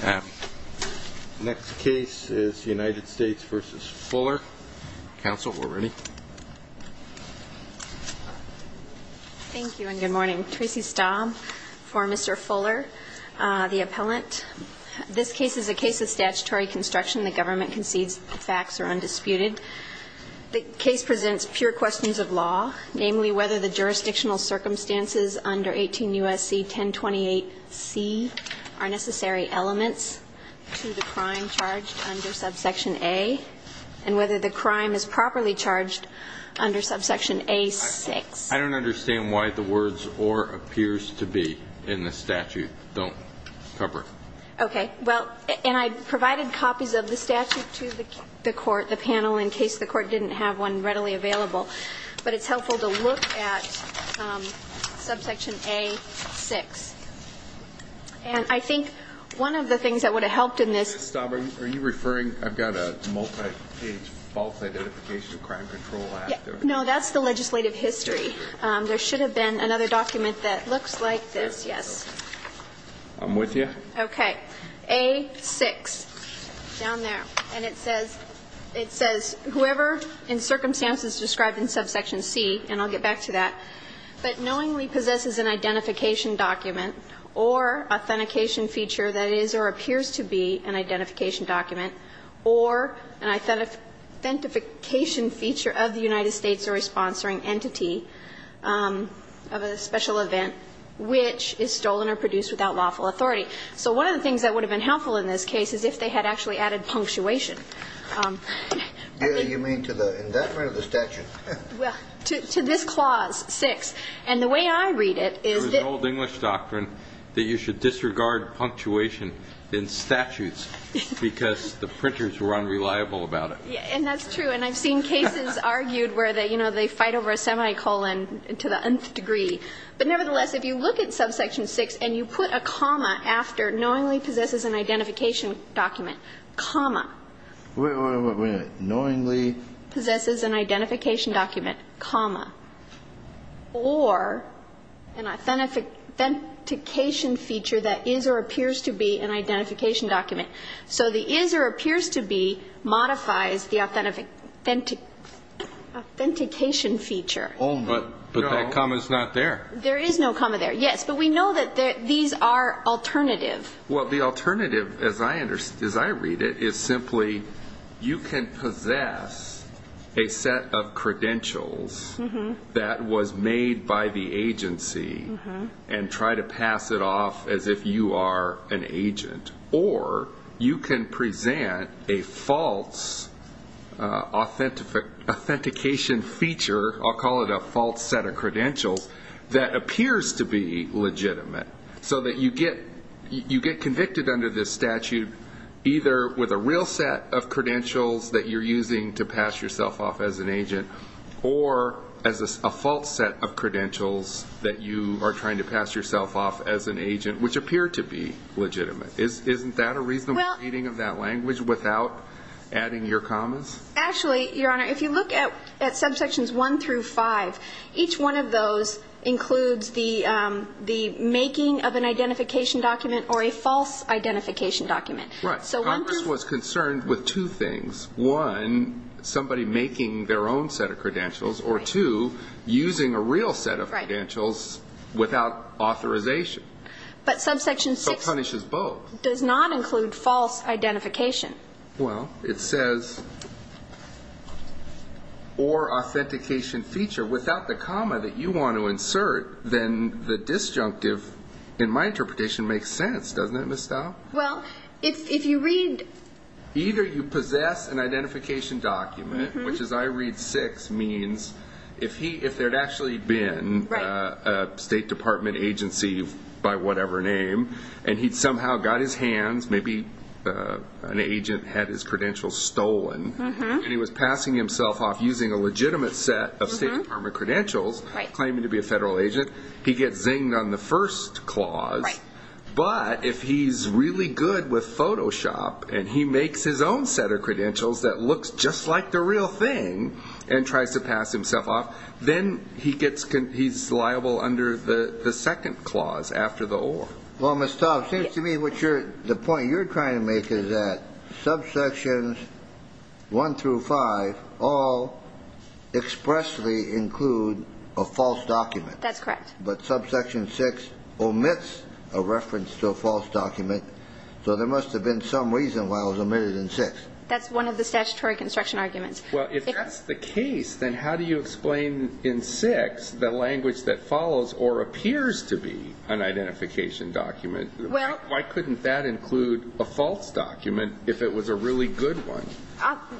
The next case is United States v. Fuller. Counsel, we're ready. Thank you, and good morning. Tracy Staub for Mr. Fuller, the appellant. This case is a case of statutory construction. The government concedes the facts are undisputed. The case presents pure questions of law, namely whether the jurisdictional circumstances under 18 U.S.C. 1028C are necessary elements to the crime charged under subsection A, and whether the crime is properly charged under subsection A-6. I don't understand why the words or appears to be in the statute don't cover it. Okay. Well, and I provided copies of the statute to the court, the panel, in case the court didn't have one readily available. But it's helpful to look at subsection A-6. And I think one of the things that would have helped in this – Are you referring – I've got a multi-page false identification of crime control act there. No, that's the legislative history. There should have been another document that looks like this. Yes. I'm with you. Okay. A-6, down there. And it says – it says whoever in circumstances described in subsection C, and I'll get back to that, but knowingly possesses an identification document or authentication feature that is or appears to be an identification document or an authentication feature of the United States or a sponsoring entity of a special event which is stolen or produced without lawful authority. So one of the things that would have been helpful in this case is if they had actually added punctuation. You mean to the – in that part of the statute? Well, to this clause, 6. And the way I read it is that – There's an old English doctrine that you should disregard punctuation in statutes because the printers were unreliable about it. And that's true. And I've seen cases argued where, you know, they fight over a semicolon to the nth degree. But nevertheless, if you look at subsection 6 and you put a comma after knowingly possesses an identification document, comma. Wait a minute. Knowingly – Possesses an identification document, comma. Or an authentication feature that is or appears to be an identification document. So the is or appears to be modifies the authentication feature. But that comma's not there. There is no comma there, yes. But we know that these are alternative. Well, the alternative, as I read it, is simply you can possess a set of credentials that was made by the agency and try to pass it off as if you are an agent. Or you can present a false authentication feature – I'll call it a false set of credentials – that appears to be legitimate. So that you get convicted under this statute either with a real set of credentials that you're using to pass yourself off as an agent, or as a false set of credentials that you are trying to pass yourself off as an agent, which appear to be legitimate. Isn't that a reasonable reading of that language without adding your commas? Actually, Your Honor, if you look at subsections 1 through 5, each one of those includes the making of an identification document or a false identification document. Right. Congress was concerned with two things. One, somebody making their own set of credentials, or two, using a real set of credentials without authorization. But subsection 6 does not include false identification. Well, it says, or authentication feature. Without the comma that you want to insert, then the disjunctive in my interpretation makes sense, doesn't it, Ms. Stahl? Well, if you read... Either you possess an identification document, which as I read 6, if there had actually been a State Department agency by whatever name, and he'd somehow got his hands, maybe an agent had his credentials stolen, and he was passing himself off using a legitimate set of State Department credentials, claiming to be a federal agent, he gets zinged on the first clause. But if he's really good with Photoshop, and he makes his own set of credentials that looks just like the real thing, and tries to pass himself off, then he's liable under the second clause after the OR. Well, Ms. Stahl, it seems to me the point you're trying to make is that subsections 1 through 5 all expressly include a false document. That's correct. But subsection 6 omits a reference to a false document, so there must have been some reason why it was omitted in 6. That's one of the statutory construction arguments. Well, if that's the case, then how do you explain in 6 the language that follows or appears to be an identification document? Why couldn't that include a false document if it was a really good one?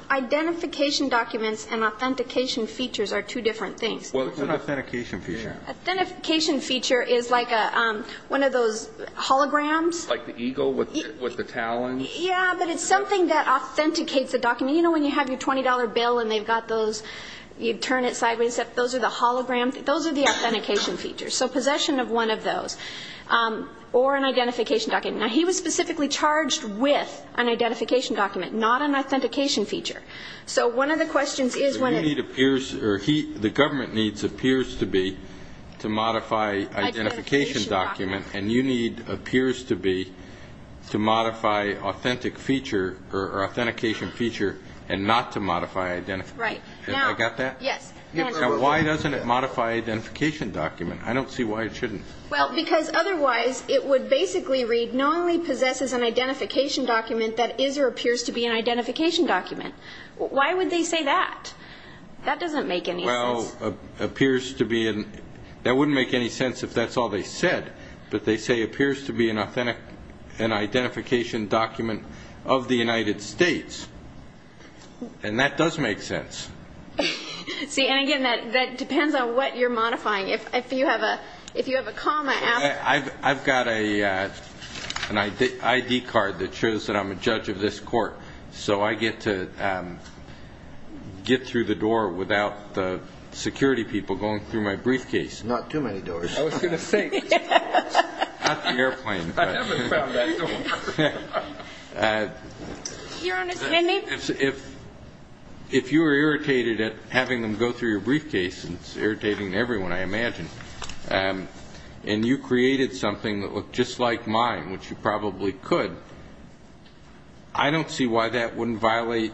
Identification documents and authentication features are two different things. What's an authentication feature? Authentication feature is like one of those holograms. Like the eagle with the talons? Yeah, but it's something that authenticates the document. You know when you have your $20 bill and they've got those, you turn it sideways. Those are the holograms. Those are the authentication features, so possession of one of those, or an identification document. Now, he was specifically charged with an identification document, not an authentication feature. So one of the questions is when a need appears, or the government needs appears to be to modify identification document, and you need appears to be to modify authentic feature or authentication feature and not to modify identification document. Right. Have I got that? Yes. Now, why doesn't it modify identification document? I don't see why it shouldn't. Well, because otherwise it would basically read, not only possesses an identification document, that is or appears to be an identification document. Why would they say that? That doesn't make any sense. That wouldn't make any sense if that's all they said, but they say appears to be an identification document of the United States, and that does make sense. See, and again, that depends on what you're modifying. If you have a comma after. I've got an ID card that shows that I'm a judge of this court, so I get to get through the door without the security people going through my briefcase. Not too many doors. I was going to say. Not the airplane. I never found that door. Your Honor, can I name? If you were irritated at having them go through your briefcase, and it's irritating to everyone, I imagine, and you created something that looked just like mine, which you probably could, I don't see why that wouldn't violate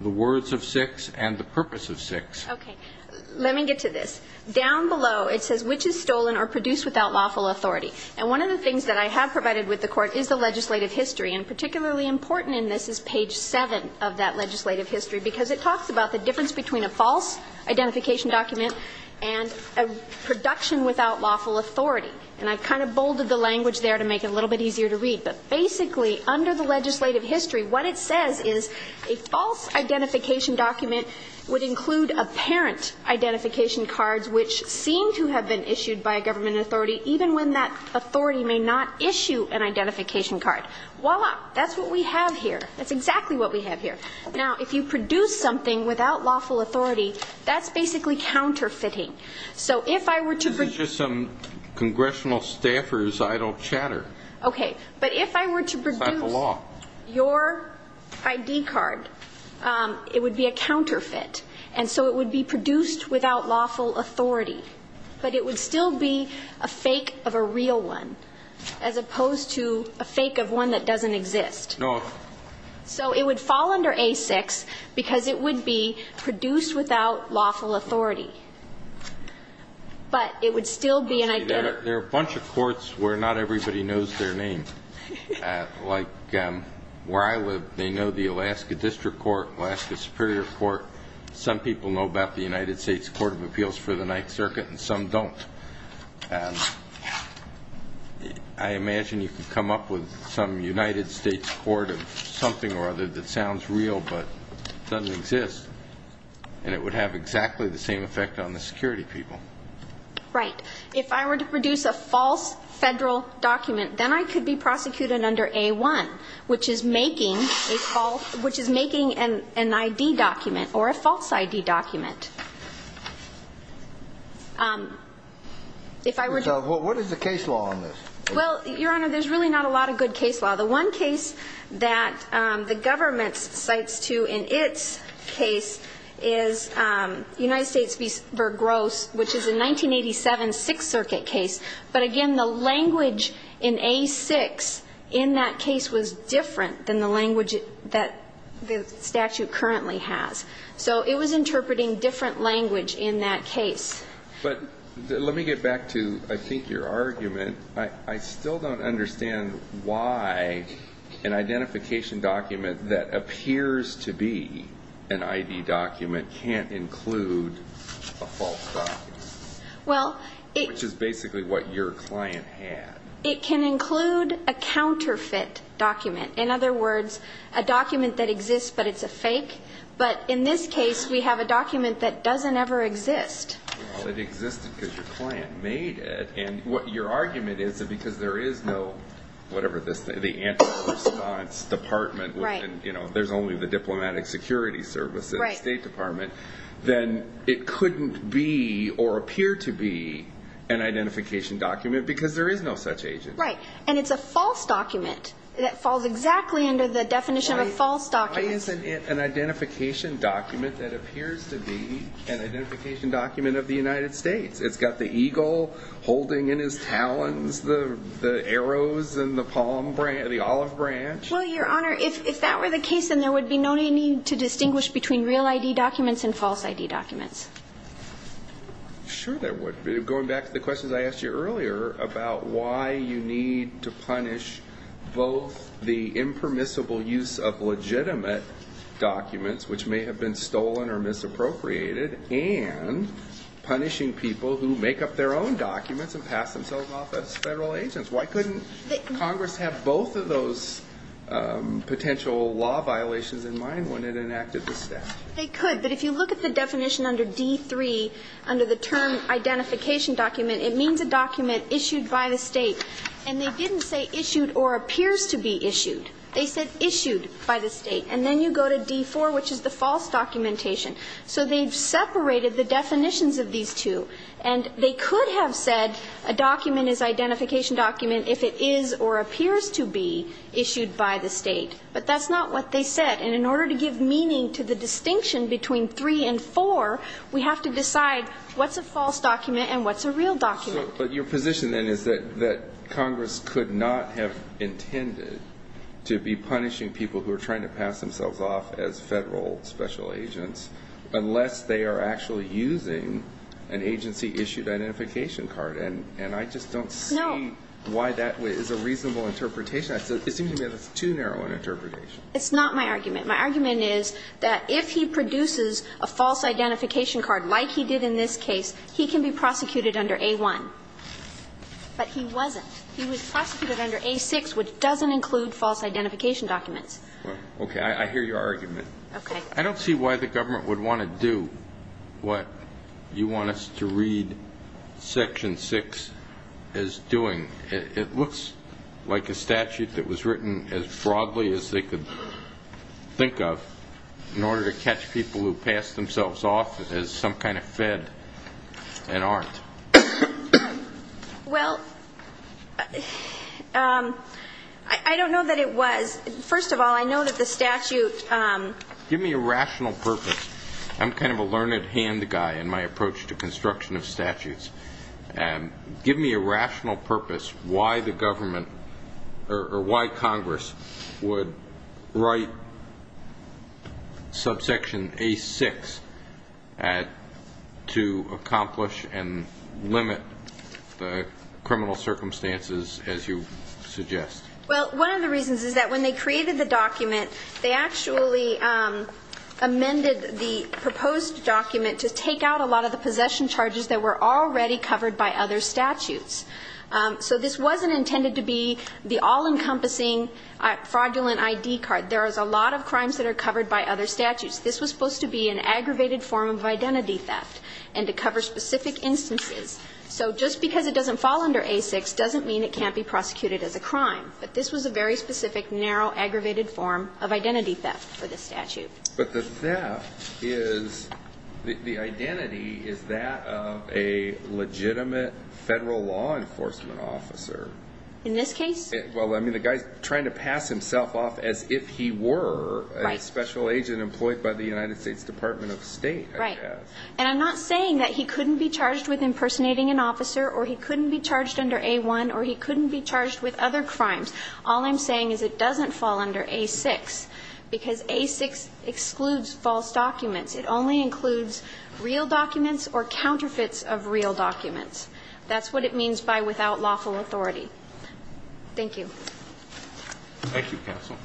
the words of 6 and the purpose of 6. Okay. Let me get to this. Down below, it says which is stolen or produced without lawful authority. And one of the things that I have provided with the Court is the legislative history, and particularly important in this is page 7 of that legislative history, because it talks about the difference between a false identification document and a production without lawful authority. And I kind of bolded the language there to make it a little bit easier to read. But basically, under the legislative history, what it says is a false identification document would include apparent identification cards which seem to have been issued by a government authority even when that authority may not issue an identification card. Voila. That's what we have here. That's exactly what we have here. Now, if you produce something without lawful authority, that's basically counterfeiting. So if I were to produce your ID card, it would be a counterfeit. And so it would be produced without lawful authority. But it would still be a fake of a real one as opposed to a fake of one that doesn't exist. So it would fall under A6 because it would be produced without lawful authority. But it would still be an identity. There are a bunch of courts where not everybody knows their name. Like where I live, they know the Alaska District Court, Alaska Superior Court. Some people know about the United States Court of Appeals for the Ninth Circuit, and some don't. I imagine you could come up with some United States court of something or other that sounds real but doesn't exist, and it would have exactly the same effect on the security people. Right. If I were to produce a false federal document, then I could be prosecuted under A1, which is making an ID document or a false ID document. What is the case law on this? Well, Your Honor, there's really not a lot of good case law. The one case that the government cites to in its case is United States v. Gross, which is a 1987 Sixth Circuit case. But, again, the language in A6 in that case was different than the language that the statute currently has. So it was interpreting different language in that case. But let me get back to, I think, your argument. I still don't understand why an identification document that appears to be an ID document can't include a false document, which is basically what your client had. It can include a counterfeit document. In other words, a document that exists but it's a fake. But in this case, we have a document that doesn't ever exist. Well, it existed because your client made it. And your argument is that because there is no, whatever this thing, the Anti-Response Department, there's only the Diplomatic Security Service and the State Department, then it couldn't be or appear to be an identification document because there is no such agent. Right. And it's a false document that falls exactly under the definition of a false document. Why is an identification document that appears to be an identification document of the United States? It's got the eagle holding in his talons the arrows and the olive branch? Well, Your Honor, if that were the case, then there would be no need to distinguish between real ID documents and false ID documents. Sure there would be. Going back to the questions I asked you earlier about why you need to punish both the impermissible use of legitimate documents, which may have been stolen or misappropriated, and punishing people who make up their own documents and pass themselves off as Federal agents. Why couldn't Congress have both of those potential law violations in mind when it enacted this statute? They could. But if you look at the definition under D3, under the term identification document, it means a document issued by the State. And they didn't say issued or appears to be issued. They said issued by the State. And then you go to D4, which is the false documentation. So they've separated the definitions of these two. And they could have said a document is identification document if it is or appears to be issued by the State. But that's not what they said. And in order to give meaning to the distinction between 3 and 4, we have to decide what's a false document and what's a real document. But your position then is that Congress could not have intended to be punishing people who are trying to pass themselves off as Federal special agents unless they are actually using an agency-issued identification card. And I just don't see why that is a reasonable interpretation. It seems to me that it's too narrow an interpretation. It's not my argument. My argument is that if he produces a false identification card like he did in this case, he can be prosecuted under A1. But he wasn't. He was prosecuted under A6, which doesn't include false identification documents. Okay. I hear your argument. Okay. I don't see why the government would want to do what you want us to read Section 6 as doing. It looks like a statute that was written as broadly as they could think of in order to catch people who pass themselves off as some kind of Fed and aren't. Well, I don't know that it was. First of all, I know that the statute ---- Give me a rational purpose. I'm kind of a learned hand guy in my approach to construction of statutes. Give me a rational purpose why the government or why Congress would write subsection A6 to accomplish and limit the criminal circumstances as you suggest. Well, one of the reasons is that when they created the document, they actually amended the proposed document to take out a lot of the possession charges that were already covered by other statutes. So this wasn't intended to be the all-encompassing fraudulent ID card. There is a lot of crimes that are covered by other statutes. This was supposed to be an aggravated form of identity theft and to cover specific instances. So just because it doesn't fall under A6 doesn't mean it can't be prosecuted as a crime. But this was a very specific, narrow, aggravated form of identity theft for this statute. But the theft is the identity is that of a legitimate federal law enforcement officer. In this case? Well, I mean, the guy's trying to pass himself off as if he were a special agent employed by the United States Department of State. Right. And I'm not saying that he couldn't be charged with impersonating an officer or he couldn't be charged under A1 or he couldn't be charged with other crimes. All I'm saying is it doesn't fall under A6 because A6 excludes false documents. It only includes real documents or counterfeits of real documents. That's what it means by without lawful authority. Thank you. Thank you, counsel.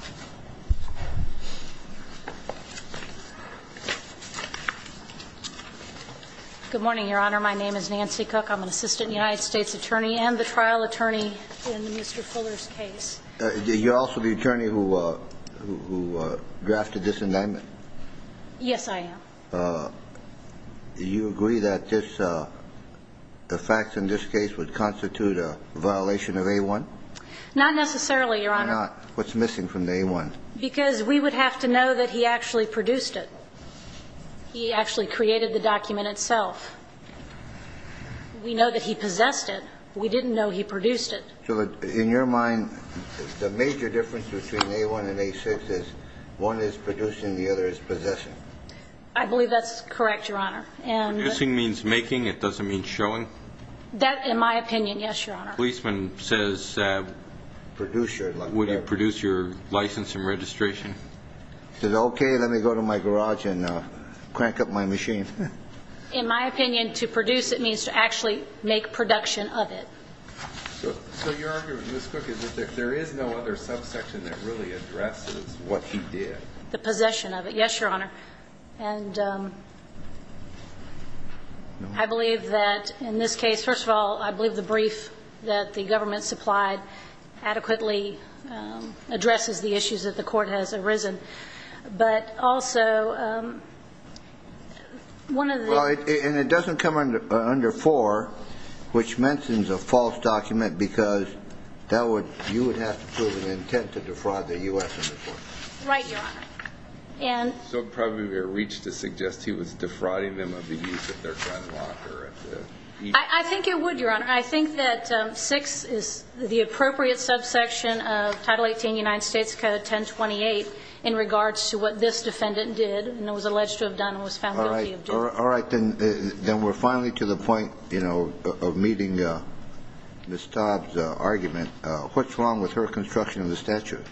Good morning, Your Honor. My name is Nancy Cook. I'm an assistant United States attorney and the trial attorney in Mr. Fuller's case. You're also the attorney who drafted this indictment? Yes, I am. Do you agree that the facts in this case would constitute a violation of A1? Not necessarily, Your Honor. Why not? What's missing from A1? Because we would have to know that he actually produced it. He actually created the document itself. We know that he possessed it. We didn't know he produced it. So in your mind, the major difference between A1 and A6 is one is producing and the other is possessing. I believe that's correct, Your Honor. It doesn't mean showing. That, in my opinion, yes, Your Honor. If a policeman says, would you produce your license and registration? He says, okay, let me go to my garage and crank up my machine. In my opinion, to produce it means to actually make production of it. So your argument, Ms. Cook, is that there is no other subsection that really addresses what he did? The possession of it, yes, Your Honor. And I believe that in this case, first of all, I believe the brief that the government supplied adequately addresses the issues that the court has arisen. But also, one of the ---- Well, and it doesn't come under 4, which mentions a false document, because you would have to prove an intent to defraud the U.S. under 4. Right, Your Honor. And ---- So it would probably be a reach to suggest he was defrauding them of the use of their gun locker. I think it would, Your Honor. I think that 6 is the appropriate subsection of Title 18 United States Code 1028 in regards to what this defendant did and was alleged to have done and was found guilty of doing. All right. Then we're finally to the point, you know, of meeting Ms. Dobbs' argument. What's wrong with her construction of the statute?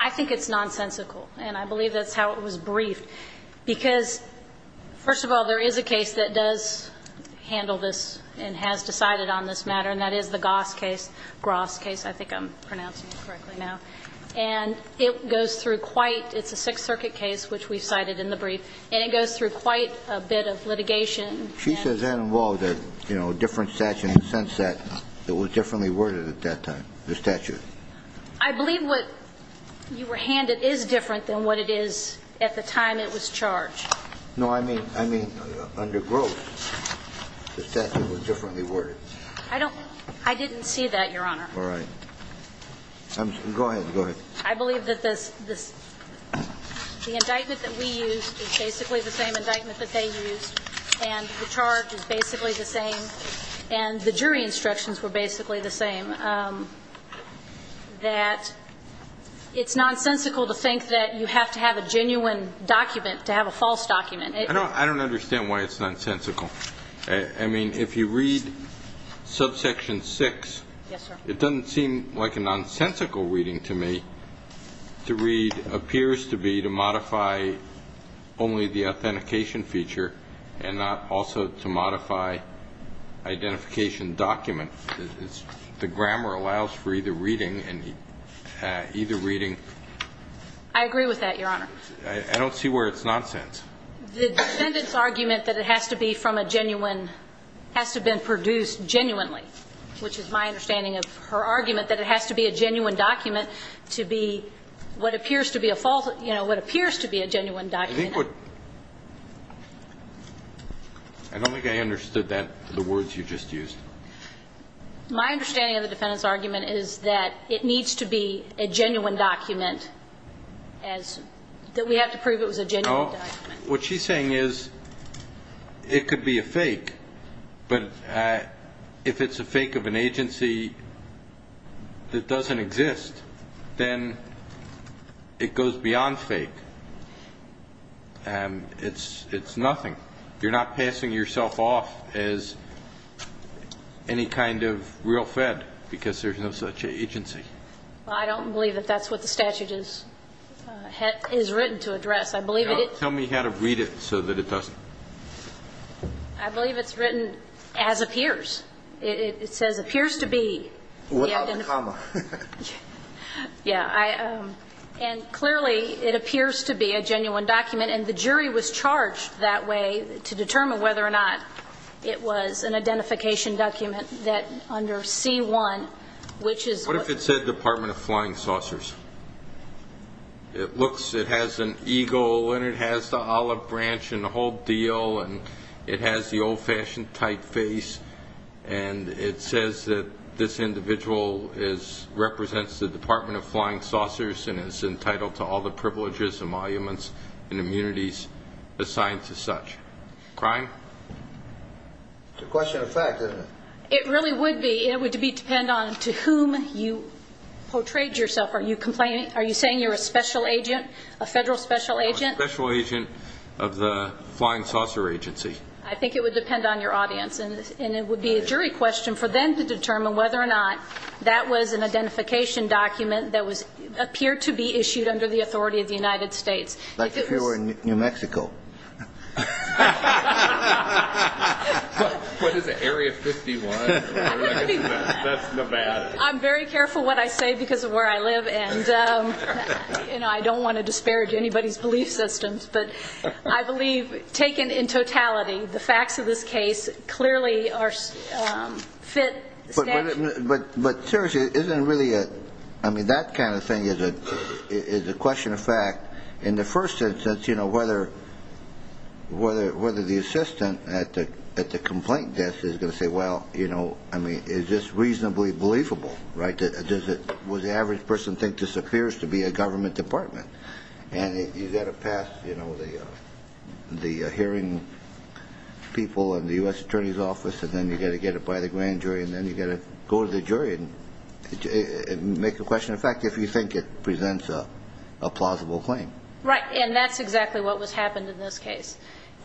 I think it's nonsensical. And I believe that's how it was briefed. Because, first of all, there is a case that does handle this and has decided on this matter, and that is the Goss case, Gross case, I think I'm pronouncing it correctly now. And it goes through quite ---- it's a Sixth Circuit case, which we cited in the brief, and it goes through quite a bit of litigation. She says that involved a, you know, different statute in the sense that it was differently worded at that time, the statute. I believe what you were handed is different than what it is at the time it was charged. No, I mean under Gross, the statute was differently worded. I don't ---- I didn't see that, Your Honor. All right. Go ahead. Go ahead. I believe that this ---- the indictment that we used is basically the same indictment that they used, and the charge is basically the same, and the jury instructions were basically the same, that it's nonsensical to think that you have to have a genuine document to have a false document. I don't understand why it's nonsensical. I mean, if you read subsection 6, it doesn't seem like a nonsensical reading to me. To read appears to be to modify only the authentication feature and not also to modify identification document. The grammar allows for either reading and either reading. I agree with that, Your Honor. I don't see where it's nonsense. The defendant's argument that it has to be from a genuine ---- has to have been produced genuinely, which is my understanding of her argument, that it has to be a genuine document to be what appears to be a false ---- you know, what appears to be a genuine document. I think what ---- I don't think I understood that, the words you just used. My understanding of the defendant's argument is that it needs to be a genuine document as ---- that we have to prove it was a genuine document. What she's saying is it could be a fake, but if it's a fake of an agency that doesn't exist, then it goes beyond fake. It's nothing. You're not passing yourself off as any kind of real Fed because there's no such agency. Well, I don't believe that that's what the statute is written to address. I believe it ---- Tell me how to read it so that it doesn't ---- I believe it's written as appears. It says appears to be. Without a comma. Yeah. And clearly it appears to be a genuine document, and the jury was charged that way to determine whether or not it was an identification document that under C-1, which is what ---- What if it said Department of Flying Saucers? It looks ---- it has an eagle, and it has the olive branch, and the whole deal, and it has the old-fashioned typeface, and it says that this individual is ---- represents the Department of Flying Saucers and is entitled to all the privileges and monuments and immunities assigned to such. Crime? It's a question of fact, isn't it? It really would be. It would depend on to whom you portrayed yourself. Are you complaining? Are you saying you're a special agent, a Federal special agent? I'm a special agent of the Flying Saucer Agency. I think it would depend on your audience, and it would be a jury question for them to determine whether or not that was an identification document that appeared to be issued under the authority of the United States. Like if you were in New Mexico. What is it, Area 51? That's Nevada. I'm very careful what I say because of where I live, and I don't want to disparage anybody's belief systems, but I believe taken in totality, the facts of this case clearly are ---- But seriously, isn't it really a ---- I mean, that kind of thing is a question of fact. In the first instance, whether the assistant at the complaint desk is going to say, well, I mean, is this reasonably believable? Does the average person think this appears to be a government department? And you've got to pass the hearing people in the U.S. Attorney's Office, and then you've got to get it by the grand jury, and then you've got to go to the jury and make a question of fact if you think it presents a plausible claim. Right. And that's exactly what happened in this case.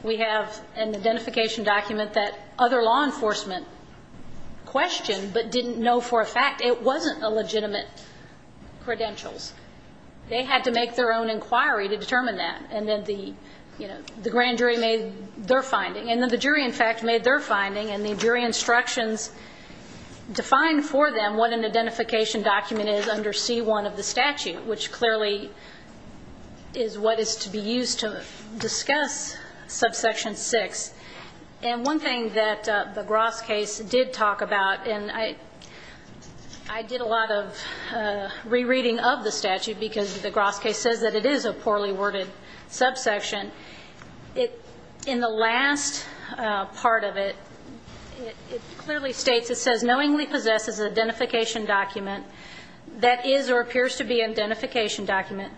We have an identification document that other law enforcement questioned but didn't know for a fact it wasn't a legitimate credentials. They had to make their own inquiry to determine that, and then the grand jury made their finding, and then the jury, in fact, made their finding, and the jury instructions defined for them what an identification document is under C-1 of the statute, which clearly is what is to be used to discuss Subsection 6. And one thing that the Gross case did talk about, and I did a lot of rereading of the statute because the Gross case says that it is a poorly worded subsection. In the last part of it, it clearly states, it says, knowingly possesses identification document that is or appears to be an identification document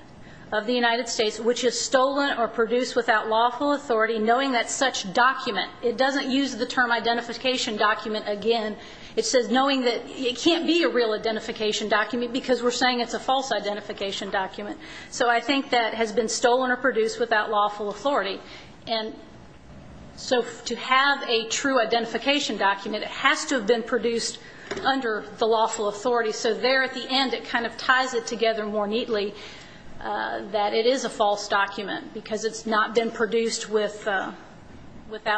of the United States which is stolen or produced without lawful authority, knowing that such document, it doesn't use the term identification document again. It says knowing that it can't be a real identification document because we're saying it's a false identification document. So I think that has been stolen or produced without lawful authority. And so to have a true identification document, it has to have been produced under the lawful authority. So there at the end, it kind of ties it together more neatly that it is a false document because it's not been produced without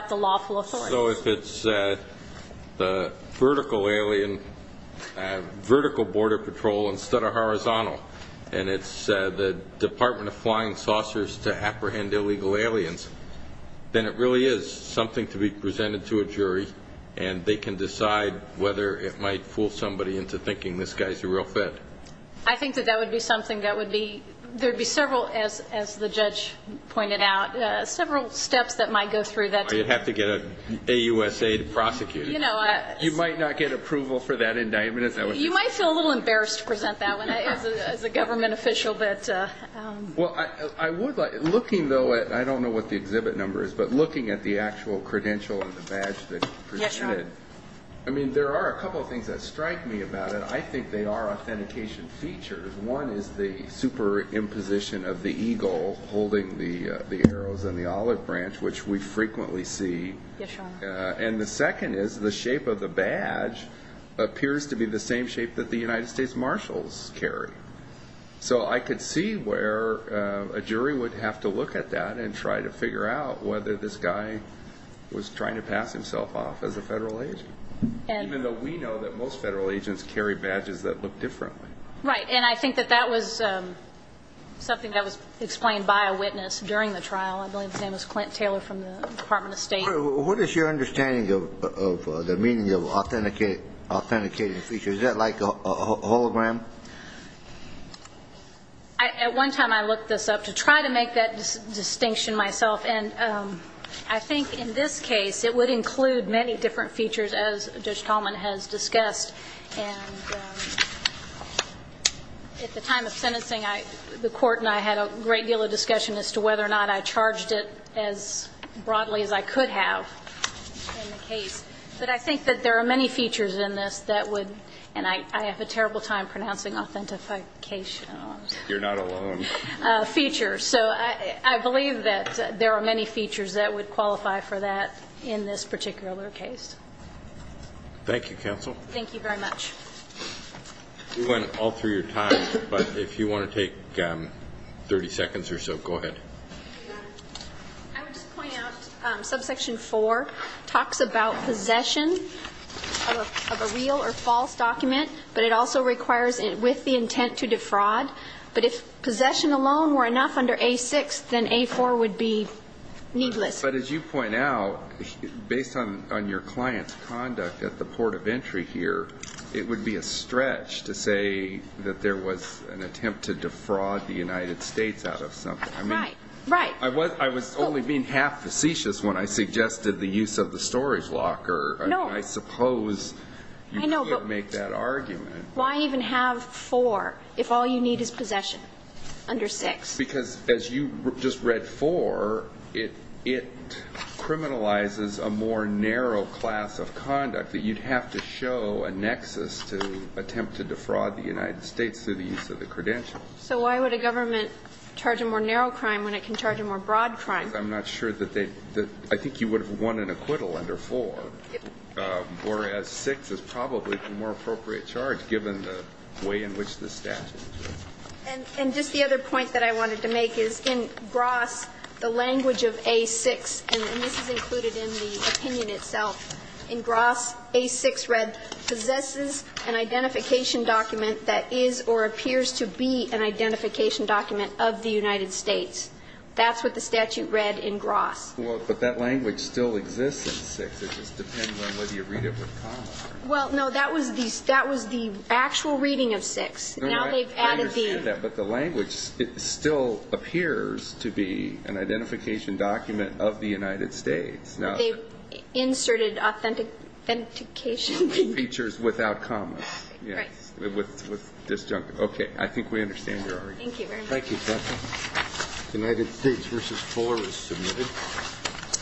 the lawful authority. So if it's the vertical alien, vertical border patrol instead of horizontal, and it's the Department of Flying Saucers to apprehend illegal aliens, then it really is something to be presented to a jury, and they can decide whether it might fool somebody into thinking this guy's a real threat. I think that that would be something that would be, there would be several, as the judge pointed out, several steps that might go through that. You'd have to get an AUSA to prosecute. You might not get approval for that indictment. You might feel a little embarrassed to present that one as a government official. Looking, though, I don't know what the exhibit number is, but looking at the actual credential and the badge that you presented, there are a couple of things that strike me about it. I think they are authentication features. One is the superimposition of the eagle holding the arrows and the olive branch, which we frequently see. And the second is the shape of the badge appears to be the same shape that the United States Marshals carry. So I could see where a jury would have to look at that and try to figure out whether this guy was trying to pass himself off as a federal agent, even though we know that most federal agents carry badges that look differently. Right, and I think that that was something that was explained by a witness during the trial. I believe his name was Clint Taylor from the Department of State. What is your understanding of the meaning of authenticated features? Is that like a hologram? At one time I looked this up to try to make that distinction myself, and I think in this case it would include many different features, as Judge Tallman has discussed. And at the time of sentencing, the court and I had a great deal of discussion as to whether or not I charged it as broadly as I could have in the case. But I think that there are many features in this that would and I have a terrible time pronouncing authentication. You're not alone. Features. So I believe that there are many features that would qualify for that in this particular case. Thank you, counsel. Thank you very much. We went all through your time, but if you want to take 30 seconds or so, go ahead. I would just point out subsection 4 talks about possession of a real or false document, but it also requires it with the intent to defraud. But if possession alone were enough under A-6, then A-4 would be needless. But as you point out, based on your client's conduct at the port of entry here, it would be a stretch to say that there was an attempt to defraud the United States out of something. Right, right. I was only being half facetious when I suggested the use of the storage locker. No. I suppose you could make that argument. Why even have 4 if all you need is possession under 6? Because, as you just read, 4, it criminalizes a more narrow class of conduct that you'd have to show a nexus to attempt to defraud the United States through the use of the credentials. So why would a government charge a more narrow crime when it can charge a more broad crime? Because I'm not sure that they – I think you would have won an acquittal under 4, whereas 6 is probably the more appropriate charge given the way in which the statute is. And just the other point that I wanted to make is in Gross, the language of A-6, and this is included in the opinion itself, in Gross, A-6 read, possesses an identification document that is or appears to be an identification document of the United States. That's what the statute read in Gross. Well, but that language still exists in 6. It just depends on whether you read it with comma. Well, no. That was the actual reading of 6. Now they've added the – I understand that, but the language, it still appears to be an identification document of the United States. They've inserted authentication – Features without commas. Right. With disjunct – okay. I think we understand your argument. Thank you very much. Thank you, Justice. The United States v. 4 is submitted.